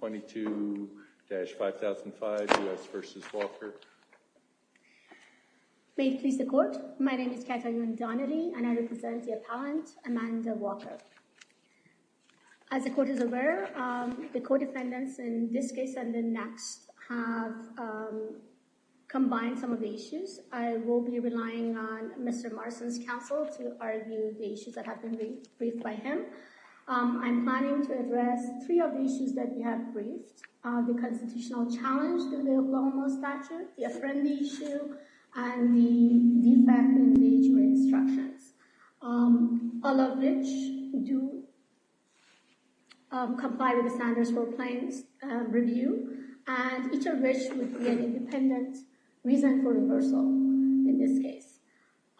22-5005 U.S. v. Walker May it please the court, my name is Katharine Donnelly and I represent the appellant Amanda Walker As the court is aware, the co-defendants in this case and the next have combined some of the issues I will be relying on Mr. Marston's counsel to argue the issues that have been briefed by him I'm planning to address three of the issues that we have briefed the constitutional challenge to the law and law statute, the friendly issue and the defect in the H. Gray instructions, all of which do comply with the standards for plain review and each of which would be an independent reason for reversal in this case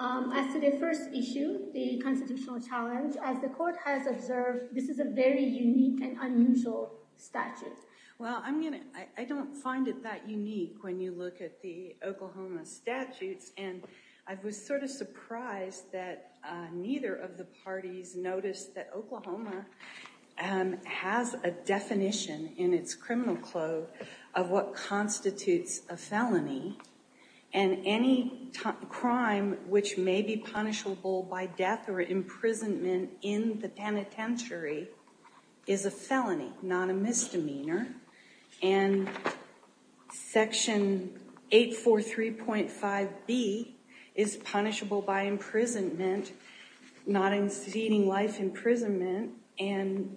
As to the first issue, the constitutional challenge, as the court has observed this is a very unique and unusual statute. Well I'm gonna, I don't find it that unique when you look at the Oklahoma statutes and I was sort of surprised that neither of the parties noticed that Oklahoma has a definition in its criminal code of what constitutes a felony and any crime which may be punishable by death or imprisonment in the penitentiary is a felony not a misdemeanor and section 843.5b is punishable by imprisonment not exceeding life imprisonment and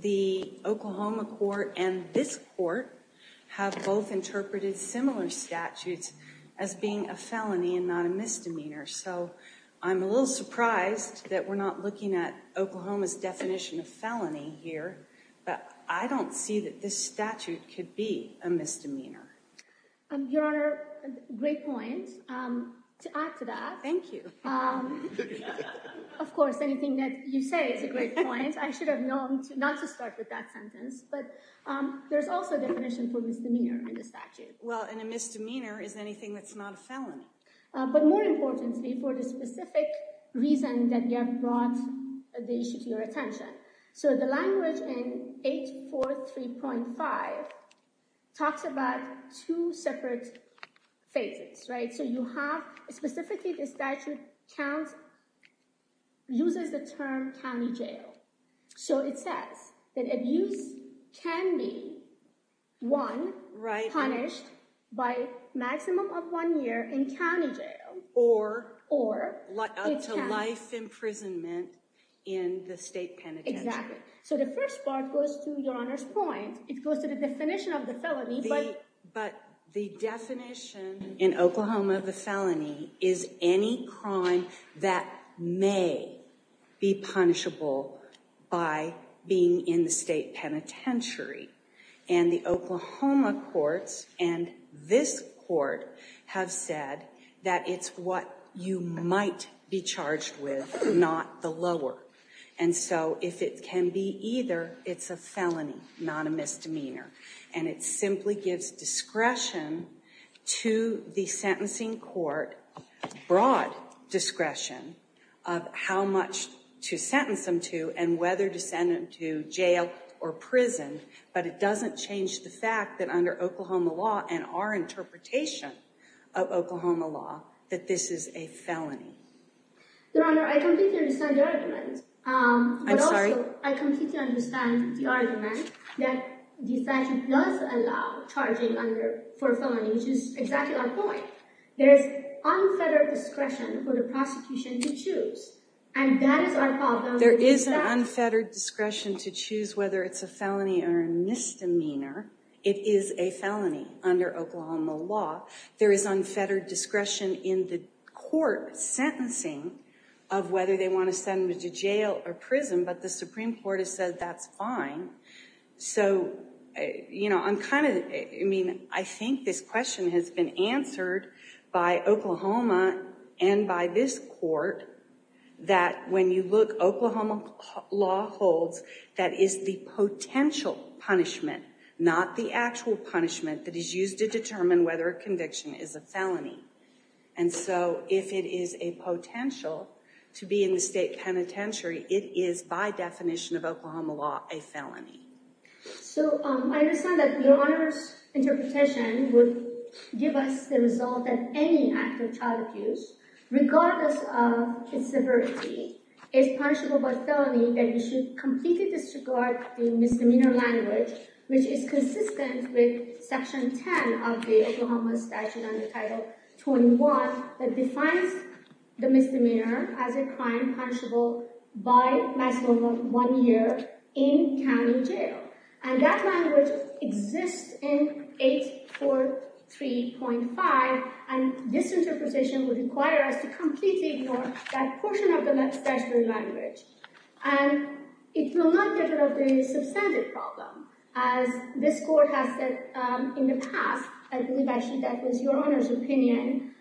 the Oklahoma court and this court have both interpreted similar statutes as being a felony and not a misdemeanor so I'm a little surprised that we're not looking at Oklahoma's definition of felony here but I don't see that this statute could be a misdemeanor um your honor great point um to add to that thank you um of course anything that you say is a great point I should have known to not to start with that sentence but um there's also a definition for misdemeanor in the statute well and a misdemeanor is anything that's not a felony but more importantly for the specific reason that you have brought the issue to your attention so the language in 843.5 talks about two separate phases right so you have specifically the statute count uses the term county jail so it says that abuse can be one right punished by maximum of one year in county jail or or life imprisonment in the state penitentiary exactly so the first part goes to your honor's point it goes to the definition of the felony but the definition in Oklahoma the felony is any crime that may be punishable by being in the state penitentiary and the Oklahoma courts and this court have said that it's what you might be charged with not the lower and so if it can be either it's a felony not a misdemeanor and it simply gives discretion to the sentencing court broad discretion of how much to sentence them to and whether to send them to jail or prison but it doesn't change the fact that under Oklahoma law and our interpretation of Oklahoma law that this is a felony. Your honor I completely understand the argument. I'm sorry. I completely understand the argument that the statute does allow charging under for felony which is exactly our point there's unfettered discretion for the prosecution to choose and that is our fault there is an unfettered discretion to choose whether it's a felony or a misdemeanor it is a felony under Oklahoma law there is unfettered discretion in the court sentencing of whether they want to send them to jail or prison but the supreme court has said that's fine so you know I'm kind of I mean I think this question has been answered by Oklahoma and by this court that when you look Oklahoma law holds that is the potential punishment not the actual punishment that is used to determine whether a conviction is a felony and so if it is a potential to be in the state penitentiary it is by definition of Oklahoma law a felony. So I understand that your honor's interpretation would give us the result that any act of child abuse regardless of its severity is punishable by felony and you should completely disregard the misdemeanor language which is consistent with section 10 of the Oklahoma statute under title 21 that defines the misdemeanor as a crime punishable by maximum one year in county jail and that language exists in 843.5 and this interpretation would require us to completely ignore that portion of the statutory language and it will not get rid of the substantive problem as this court has said in the past I believe actually that was your honor's opinion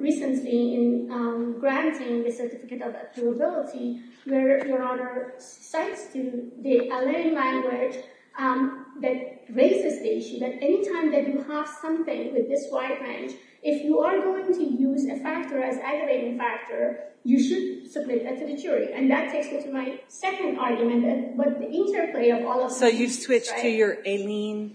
recently in granting the certificate of appealability where your honor cites to the LA language that raises the issue that anytime that you have something with this wide range if you are going to use a factor as aggravating factor you should submit that to the jury and that takes me to my second argument but the interplay of all of so you switch to your alien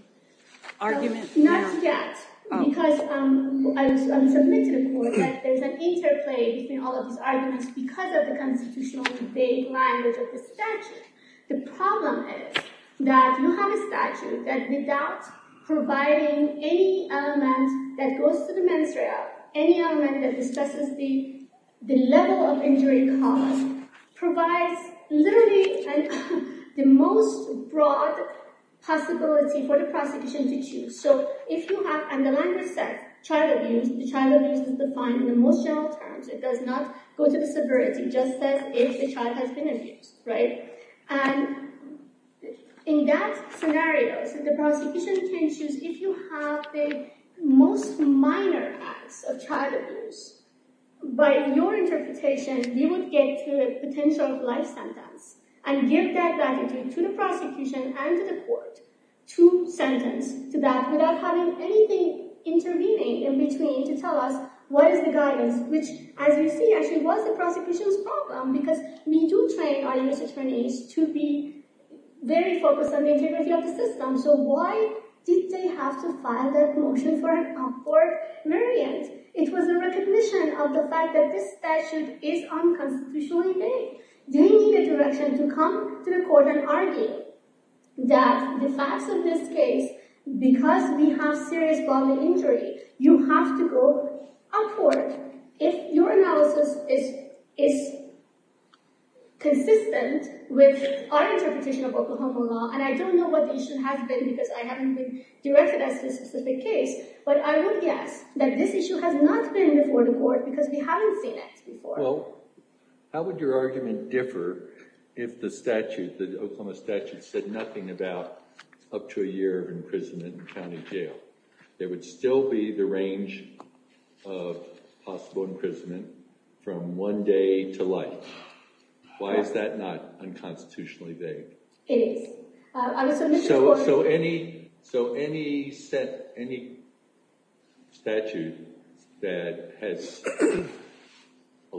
argument not yet because um I'm submitted to the court that there's an interplay between all of these arguments because of the constitutional debate language of the statute the problem is that you have a statute that without providing any element that goes to the literally and the most broad possibility for the prosecution to choose so if you have and the language said child abuse the child abuse is defined in emotional terms it does not go to the severity justice if the child has been abused right and in that scenario so the prosecution can choose if you have the most minor acts of child abuse by your interpretation we would get a potential life sentence and give that attitude to the prosecution and to the court to sentence to that without having anything intervening in between to tell us what is the guidance which as you see actually was the prosecution's problem because we do train our U.S. attorneys to be very focused on the integrity of the system so why did they have to file that motion for an unconstitutional debate they need a direction to come to the court and argue that the facts of this case because we have serious bodily injury you have to go upward if your analysis is is consistent with our interpretation of Oklahoma law and I don't know what the issue has been because I haven't been directed at this specific case but I would guess that this issue has not been before the court because we haven't seen it before well how would your argument differ if the statute the Oklahoma statute said nothing about up to a year of imprisonment in county jail there would still be the range of possible imprisonment from one day to life why is that not has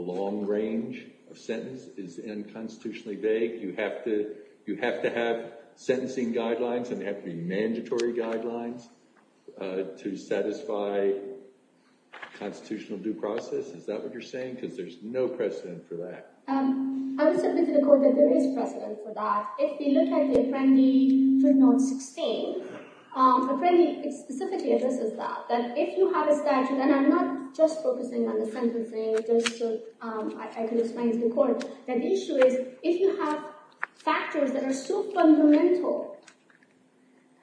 a long range of sentence is unconstitutionally vague you have to you have to have sentencing guidelines and have to be mandatory guidelines uh to satisfy constitutional due process is that what you're saying because there's no precedent for that um I would submit to the court that there is precedent for that if you look at the apprendee written on 16 um apprendee it specifically addresses that that if you have a statute and I'm not just focusing on the sentencing just so um I can explain to the court that issue is if you have factors that are so fundamental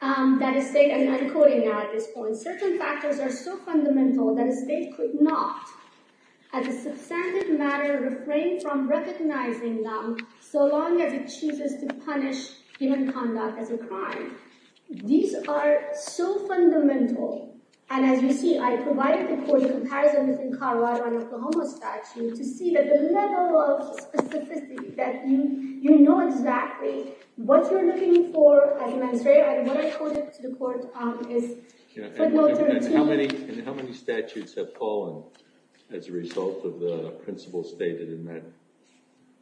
um that a state and I'm quoting now at this point certain factors are so fundamental that a state could not as a substantive matter refrain from recognizing them so long as it chooses to punish human conduct as a crime these are so fundamental and as you see I provided before the comparison between Colorado and Oklahoma statute to see that the level of specificity that you you know exactly what you're looking for administrative and what I quoted to the court um is how many and how many statutes have fallen as a result of the principle stated in that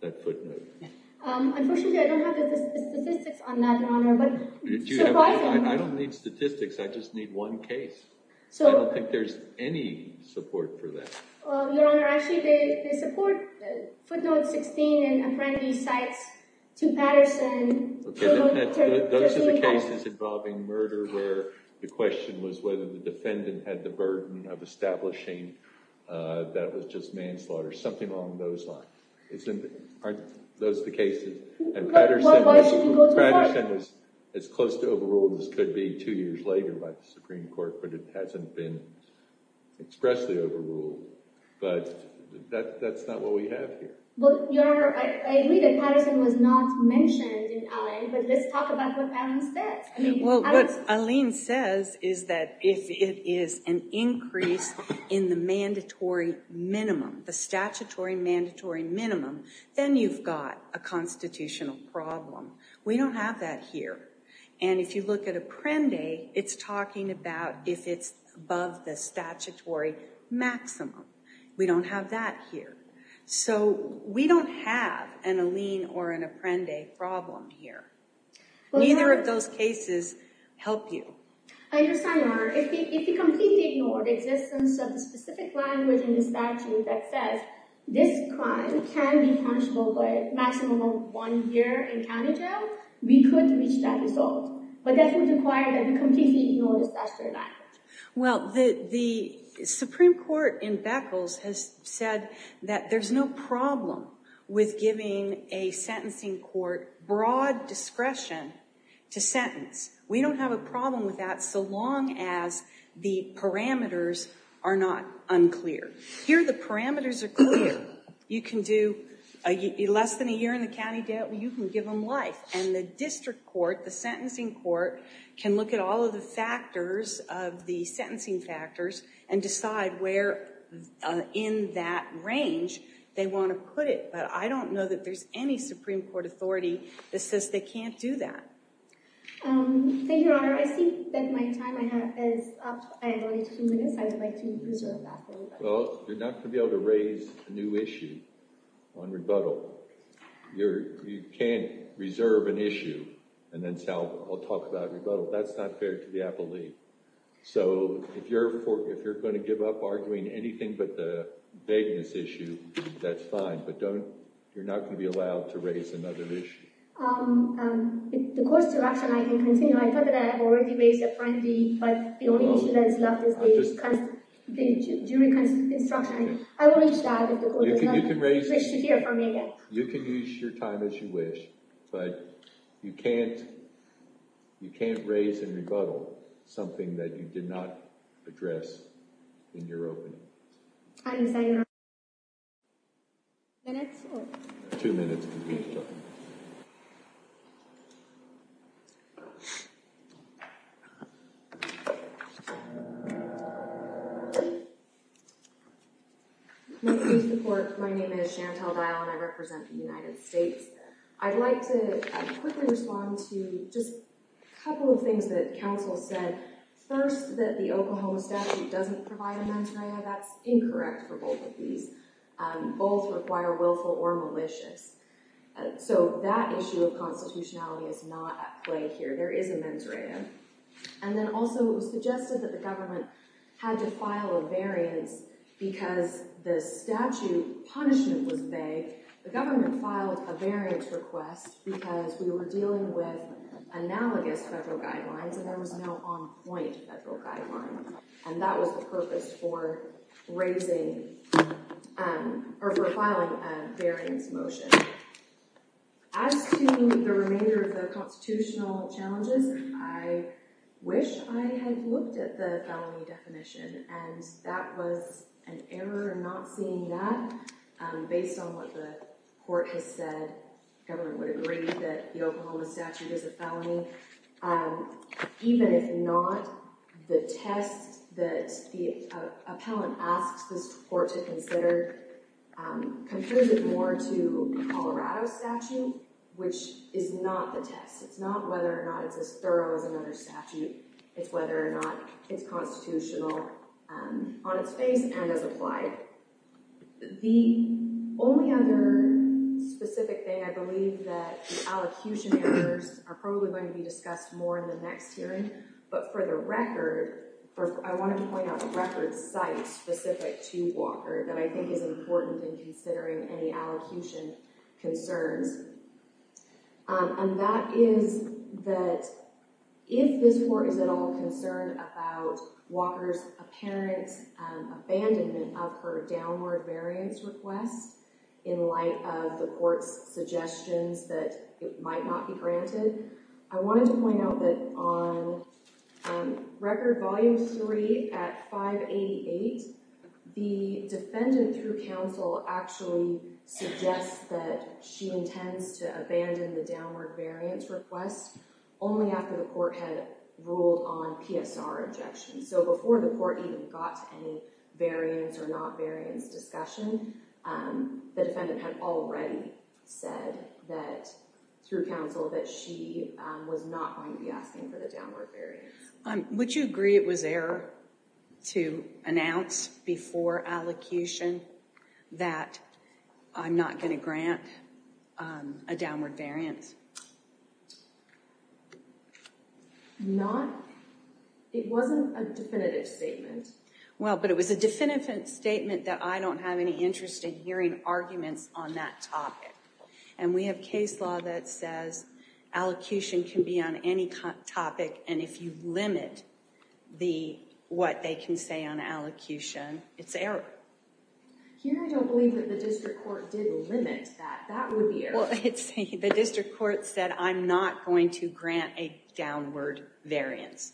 that footnote um unfortunately I did you have I don't need statistics I just need one case so I don't think there's any support for that your honor actually they support the footnote 16 and apprendi sites to Patterson those are the cases involving murder where the question was whether the defendant had the burden of establishing uh that was just manslaughter something along those lines isn't it aren't those the cases and Patterson Patterson is as close to overruled as could be two years later by the Supreme Court but it hasn't been expressly overruled but that that's not what we have here but your I agree that Patterson was not mentioned in Allen but let's talk about what Alan said well what Aline says is that if it is an increase in the mandatory minimum the statutory mandatory minimum then you've got a constitutional problem we don't have that here and if you look at apprendi it's talking about if it's above the statutory maximum we don't have that here so we don't have an Aline or an apprendi problem here neither of those cases help you I understand your honor if if you completely ignore the existence of the specific language in the statute that says this crime can be punishable by a maximum of one year in county jail we could reach that result but that would require that we completely ignore the statute well the the Supreme Court in Beckles has said that there's no problem with giving a sentencing court broad discretion to sentence we don't have a problem with that so long as the parameters are not unclear here the parameters are clear you can do a less than a year in the county jail you can give them life and the district court the sentencing court can look at all of the factors of the sentencing factors and decide where in that range they want to put it but I don't know that there's any Supreme Court authority that says they can't do that thank you your honor I see that my time I have is up I have only two minutes I would like to reserve that well you're not going to be able to raise a new issue on rebuttal you're you can't reserve an issue and then tell I'll talk about rebuttal that's not fair to the appellee so if you're if you're going to give up arguing anything but the vagueness issue that's fine but don't you're not going to be allowed to raise another issue um the court's direction I can continue I thought that I have already raised it finally but the only issue that is left is the jury instruction I will reach that you can use your time as you wish but you can't you can't raise a rebuttal something that you did not address in your opening second minutes or two minutes my name is Chantelle Dial and I represent the United States I'd like to quickly respond to just a couple of things that counsel said first that the Oklahoma statute doesn't provide a these um both require willful or malicious so that issue of constitutionality is not at play here there is a mens rea and then also it was suggested that the government had to file a variance because the statute punishment was vague the government filed a variance request because we were dealing with analogous federal guidelines and there was no on-point federal and that was the purpose for raising um or for filing a variance motion as to the remainder of the constitutional challenges I wish I had looked at the felony definition and that was an error not seeing that um based on what the court has said government would agree that the Oklahoma statute is a felony um even if not the test that the appellant asks this court to consider um confers it more to Colorado statute which is not the test it's not whether or not it's as thorough as another statute it's whether or not it's constitutional um on its face and as applied the only other specific thing I believe that the allocution errors are probably going to be discussed more in the next hearing but for the record for I want to point out the record site specific to Walker that I think is important in considering any allocution concerns um and that is that if this court is at all concerned about Walker's apparent um abandonment of her downward variance request in light of the court's suggestions that it might not be granted I wanted to point out that on record volume three at 588 the defendant through counsel actually suggests that she intends to abandon the downward variance request only after the court had ruled on PSR so before the court even got to any variance or not variance discussion um the defendant had already said that through counsel that she was not going to be asking for the downward variance um would you agree it was error to announce before allocation that I'm not going to grant um a downward variance not it wasn't a definitive statement well but it was a definitive statement that I don't have any interest in hearing arguments on that topic and we have case law that says allocation can be on any topic and if you limit the what they can say on allocution it's error here I don't believe that district court did limit that that would be well it's the district court said I'm not going to grant a downward variance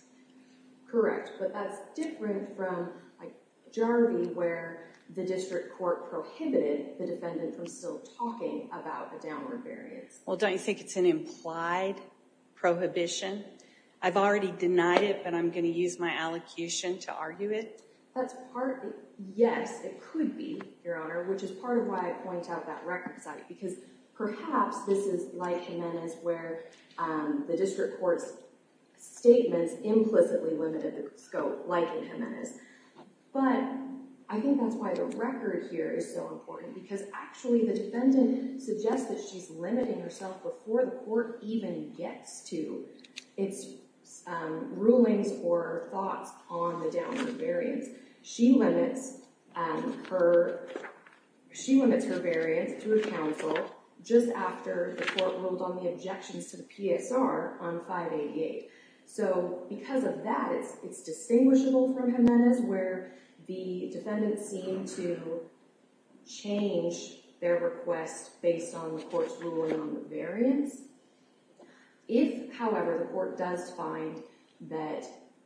correct but that's different from like Jaramie where the district court prohibited the defendant from still talking about the downward variance well don't you think it's an implied prohibition I've already denied it but I'm going to use my allocution to argue it that's part yes it could be your honor which is part of why I point out that record site because perhaps this is like Jimenez where um the district court's statements implicitly limited the scope like in Jimenez but I think that's why the record here is so important because actually the defendant suggests that she's limiting herself before the court even gets to its um rulings or thoughts on the downward variance she limits um her she limits her variance through a counsel just after the court ruled on the objections to the PSR on 588 so because of that it's it's distinguishable from Jimenez where the defendants seem to change their request based on the court's ruling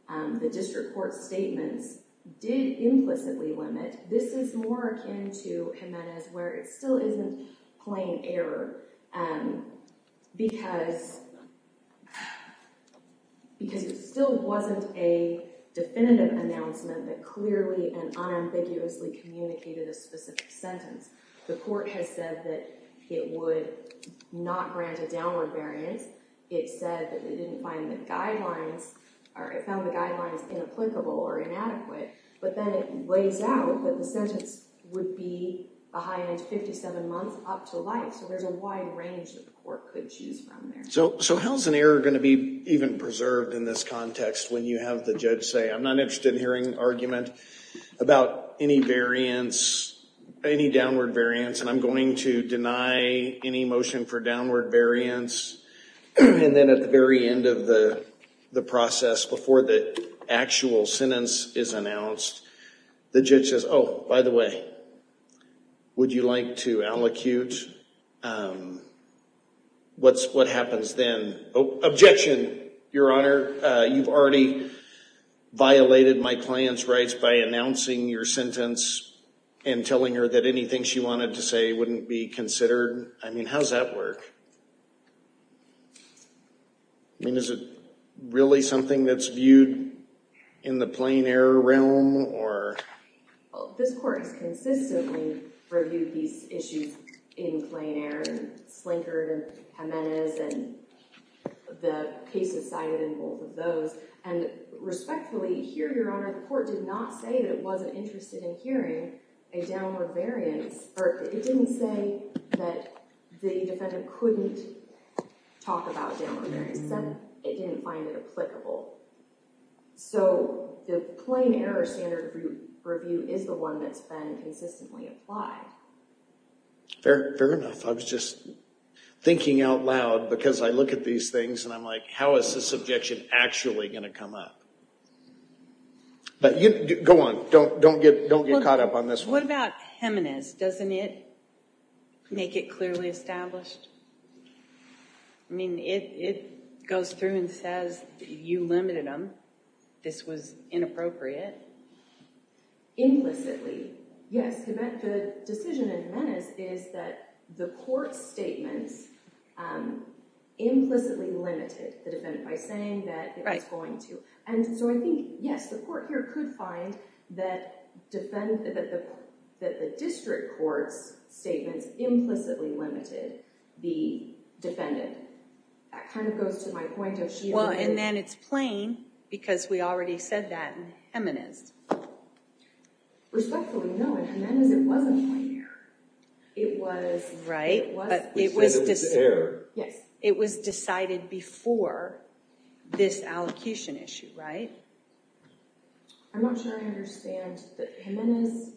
on the district court's statements did implicitly limit this is more akin to Jimenez where it still isn't plain error um because because it still wasn't a definitive announcement that clearly and unambiguously communicated a specific sentence the court has said that it would not grant a downward variance it said that it didn't find the guidelines or it found the guidelines inapplicable or inadequate but then it lays out that the sentence would be behind 57 months up to life so there's a wide range that the court could choose from there so so how's an error going to be even preserved in this context when you have the judge say I'm not interested in hearing argument about any variance any downward variance and I'm going to deny any motion for defense and then at the very end of the the process before the actual sentence is announced the judge says oh by the way would you like to allocute um what's what happens then objection your honor uh you've already violated my client's rights by announcing your sentence and telling her that anything she wanted to say wouldn't be considered I mean how's that work I mean is it really something that's viewed in the plain error realm or well this court has consistently reviewed these issues in plain error slinker and Jimenez and the cases cited in both of those and respectfully here your honor the court did not say that it wasn't interested in hearing a downward variance or it didn't say that the defendant couldn't talk about down there instead it didn't find it applicable so the plain error standard review is the one that's been consistently applied fair fair enough I was just thinking out loud because I look at these things and I'm like how is this objection actually going to come up but you go on don't don't get don't get caught up on this what about Jimenez doesn't it make it clearly established I mean it it goes through and says you limited them this was inappropriate implicitly yes the decision in Jimenez is that the court's statements implicitly limited the defendant by saying that it's going to and so I think yes the court here could find that defend that the district court's statements implicitly limited the defendant that kind of goes to my point well and then it's plain because we already said that in Jimenez respectfully no and Jimenez it wasn't it was right but it was yes it was decided before this allocution issue right I'm not sure I understand that Jimenez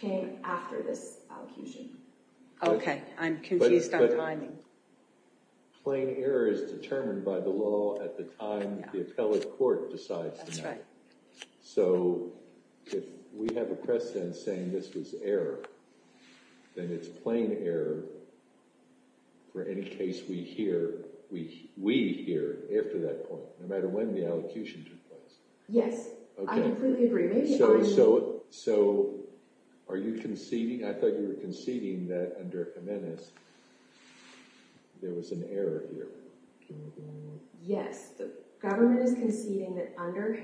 came after this allocation okay I'm confused on timing plain error is determined by the law at the time the appellate court decides that's right so if we have a precedent saying this was error then it's plain error for any case we hear we we hear after that point no matter when the allocution took place yes I completely agree maybe so so are you conceding I thought you were conceding that under Jimenez there was an error here yes the government is conceding that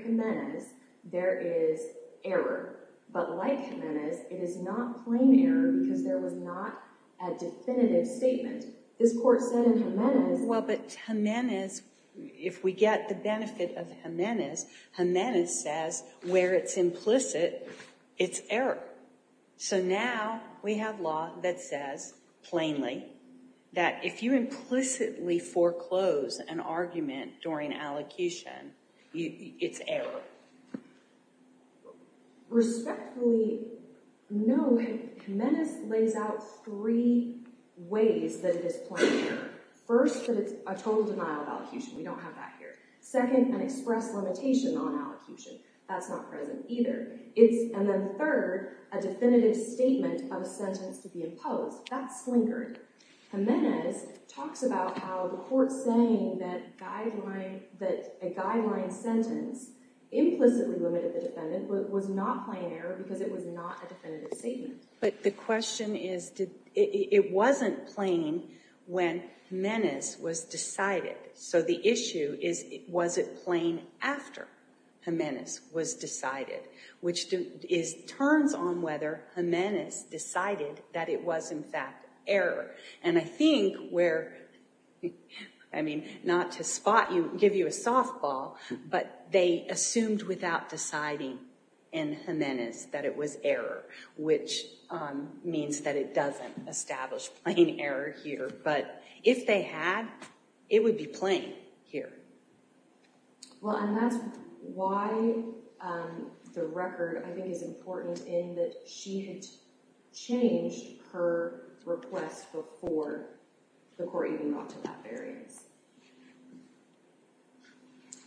Jimenez there is error but like Jimenez it is not plain error because there was not a definitive statement this court said in Jimenez well but Jimenez if we get the benefit of Jimenez Jimenez says where it's implicit it's error so now we have law that says plainly that if you it's error respectfully no Jimenez lays out three ways that it is plain error first that it's a total denial of allocution we don't have that here second an express limitation on allocation that's not present either it's and then third a definitive statement of a sentence to be imposed that's slinkered Jimenez talks about how the court's saying that guideline that a guideline sentence implicitly limited the defendant but was not plain error because it was not a definitive statement but the question is did it wasn't plain when Jimenez was decided so the issue is was it plain after Jimenez was decided which is turns on whether Jimenez decided that it was in fact error and I think where I mean not to spot you give you a softball but they assumed without deciding in Jimenez that it was error which means that it doesn't establish plain error here but if they had it would be plain here well and that's why the record I think is important in that she had changed her request before the court even got to that variance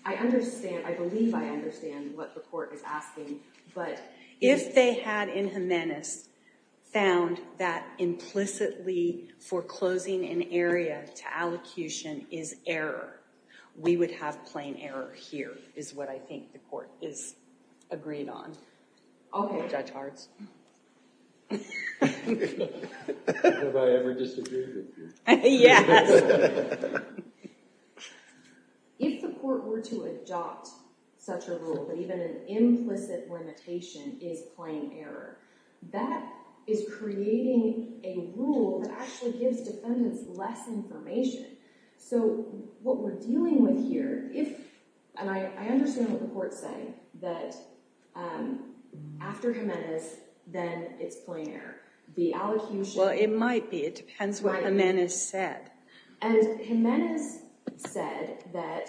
I understand I believe I understand what the court is asking but if they had in Jimenez found that implicitly foreclosing an area to allocution is error we would have plain error here is what I think the court is agreed on okay judge arts have I ever disagreed with you yes if the court were to adopt such a rule but even an implicit limitation is plain error that is creating a rule that actually gives defendants less information so what we're dealing with here and I understand what the court's saying that after Jimenez then it's plain error the allocution well it might be it depends what Jimenez said and Jimenez said that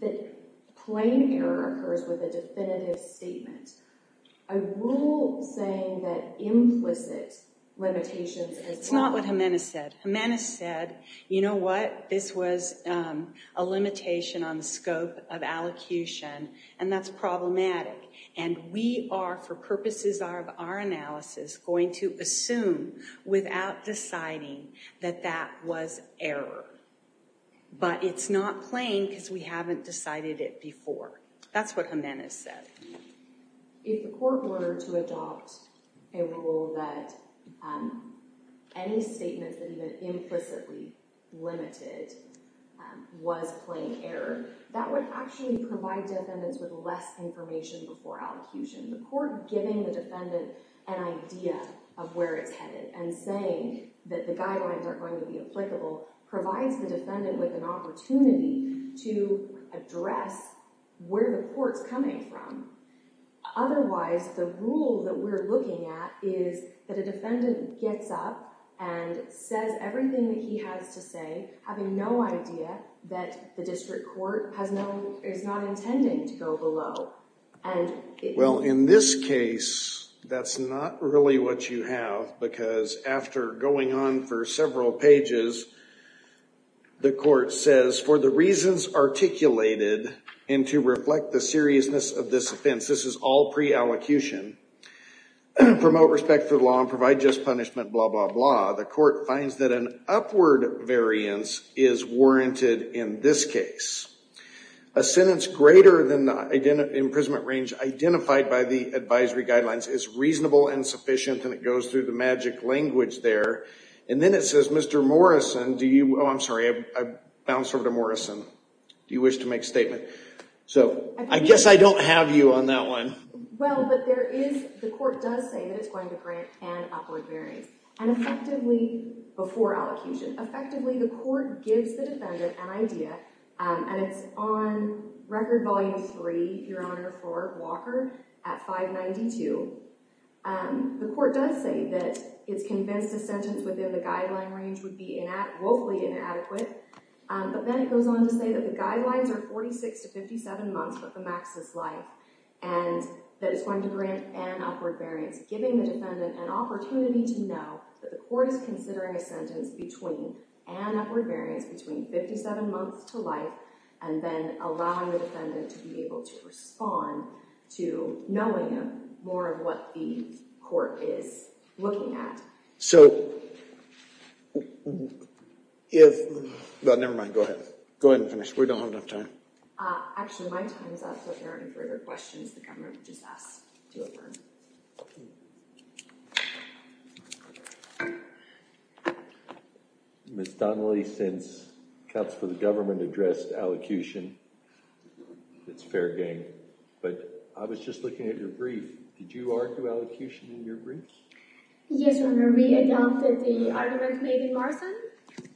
that plain error occurs with a definitive statement a rule saying that implicit limitations it's not what Jimenez said Jimenez said you know what this was a limitation on the scope of allocution and that's problematic and we are for purposes of our analysis going to assume without deciding that that was error but it's not plain because we haven't decided it before that's what Jimenez said if the court were to adopt a rule that any statement that even implicitly limited was plain error that would actually provide defendants with less information before allocution the court giving the defendant an idea of where it's headed and saying that the guidelines are going to be applicable provides the defendant with an opportunity to address where the court's coming from otherwise the rule that we're looking at is that a defendant gets up and says everything that he has to say having no idea that the district court has no is not intending to go below and well in this case that's not really what you have because after going on for several pages the court says for the reasons articulated and to reflect the seriousness of this offense this is all pre-allocution promote respect for the law and provide just punishment blah blah blah the court finds that an upward variance is warranted in this case a sentence greater than the imprisonment range identified by the advisory guidelines is reasonable and sufficient and it I'm sorry I bounced over to Morrison do you wish to make statement so I guess I don't have you on that one well but there is the court does say that it's going to grant an upward variance and effectively before allocation effectively the court gives the defendant an idea and it's on record volume three your honor for Walker at 592 the court does say that it's convinced a sentence within the guideline range would be in adequately inadequate but then it goes on to say that the guidelines are 46 to 57 months of the maxis life and that is going to grant an upward variance giving the defendant an opportunity to know that the court is considering a sentence between an upward variance between 57 months to life and then allowing the defendant to be able to respond to knowing more of what the court is looking at so if but never mind go ahead go ahead and finish we don't have enough time actually my time is up so if there are any further questions the government just asked to affirm okay miss donnelly since cops for the government addressed allocution it's fair game but I was just looking at your brief did you argue allocution in your brief yes your honor we adopted the argument made in Morrison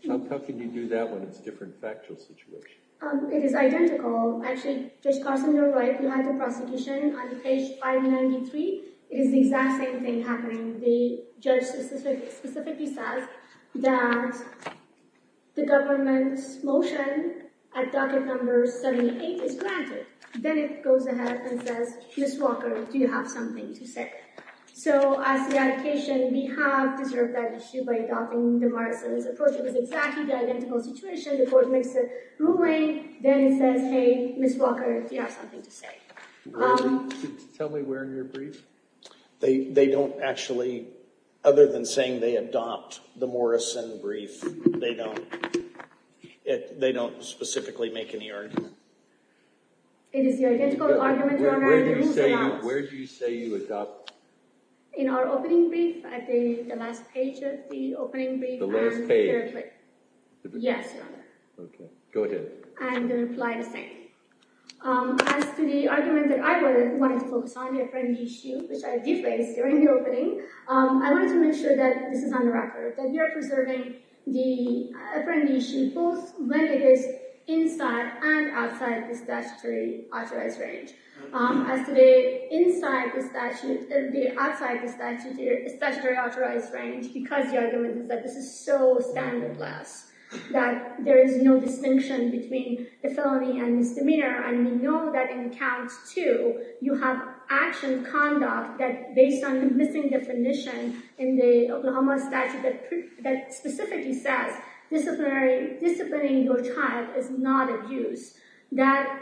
how can you do that when it's different factual situation um it is identical actually judge carson you're right we had the prosecution on page 593 it is the exact same thing happening the judge specifically says that the government's motion at docket number 78 is granted then it goes ahead and says miss walker do you have something to say so as the allocation we have deserved that issue by adopting the morrison's approach it was exactly the identical situation the court makes a ruling then it says miss walker if you have something to say tell me where in your brief they they don't actually other than saying they adopt the morrison brief they don't it they don't specifically make any argument it is the identical argument where do you say you adopt in our opening brief at the last page of the opening brief the last page yes your honor okay go ahead and then apply the same as to the argument that I was wanting to focus on the apprentice issue which I defaced during the opening um I wanted to make sure that this is on the record that we are preserving the apprenticeship both when it is inside and outside the statutory authorized range as to the inside the statute the outside the statutory authorized range because the argument is that this is so standardless that there is no distinction between the felony and misdemeanor and we know that in count two you have action conduct that based on the missing definition in the oklahoma statute that that specifically says disciplinary disciplining your child is not used that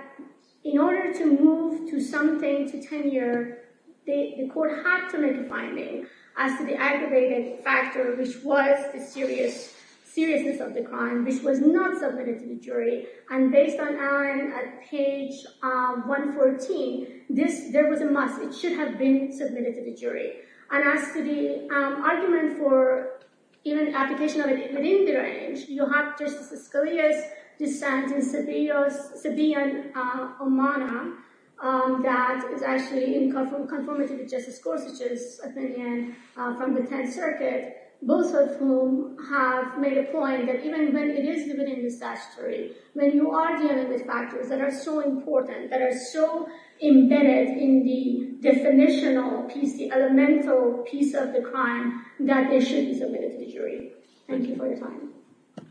in order to move to something to tenure they the court had to make a finding as to the aggravated factor which was the serious seriousness of the crime which was not submitted to the jury and based on on at page um 114 this there was a must it should have been submitted to the jury and as to the argument for even application of it within the range you have um that is actually in conformity with justice Gorsuch's opinion from the 10th circuit both of whom have made a point that even when it is within the statutory when you are dealing with factors that are so important that are so embedded in the definitional piece the elemental piece of the crime that it should be submitted to the jury thank you for your time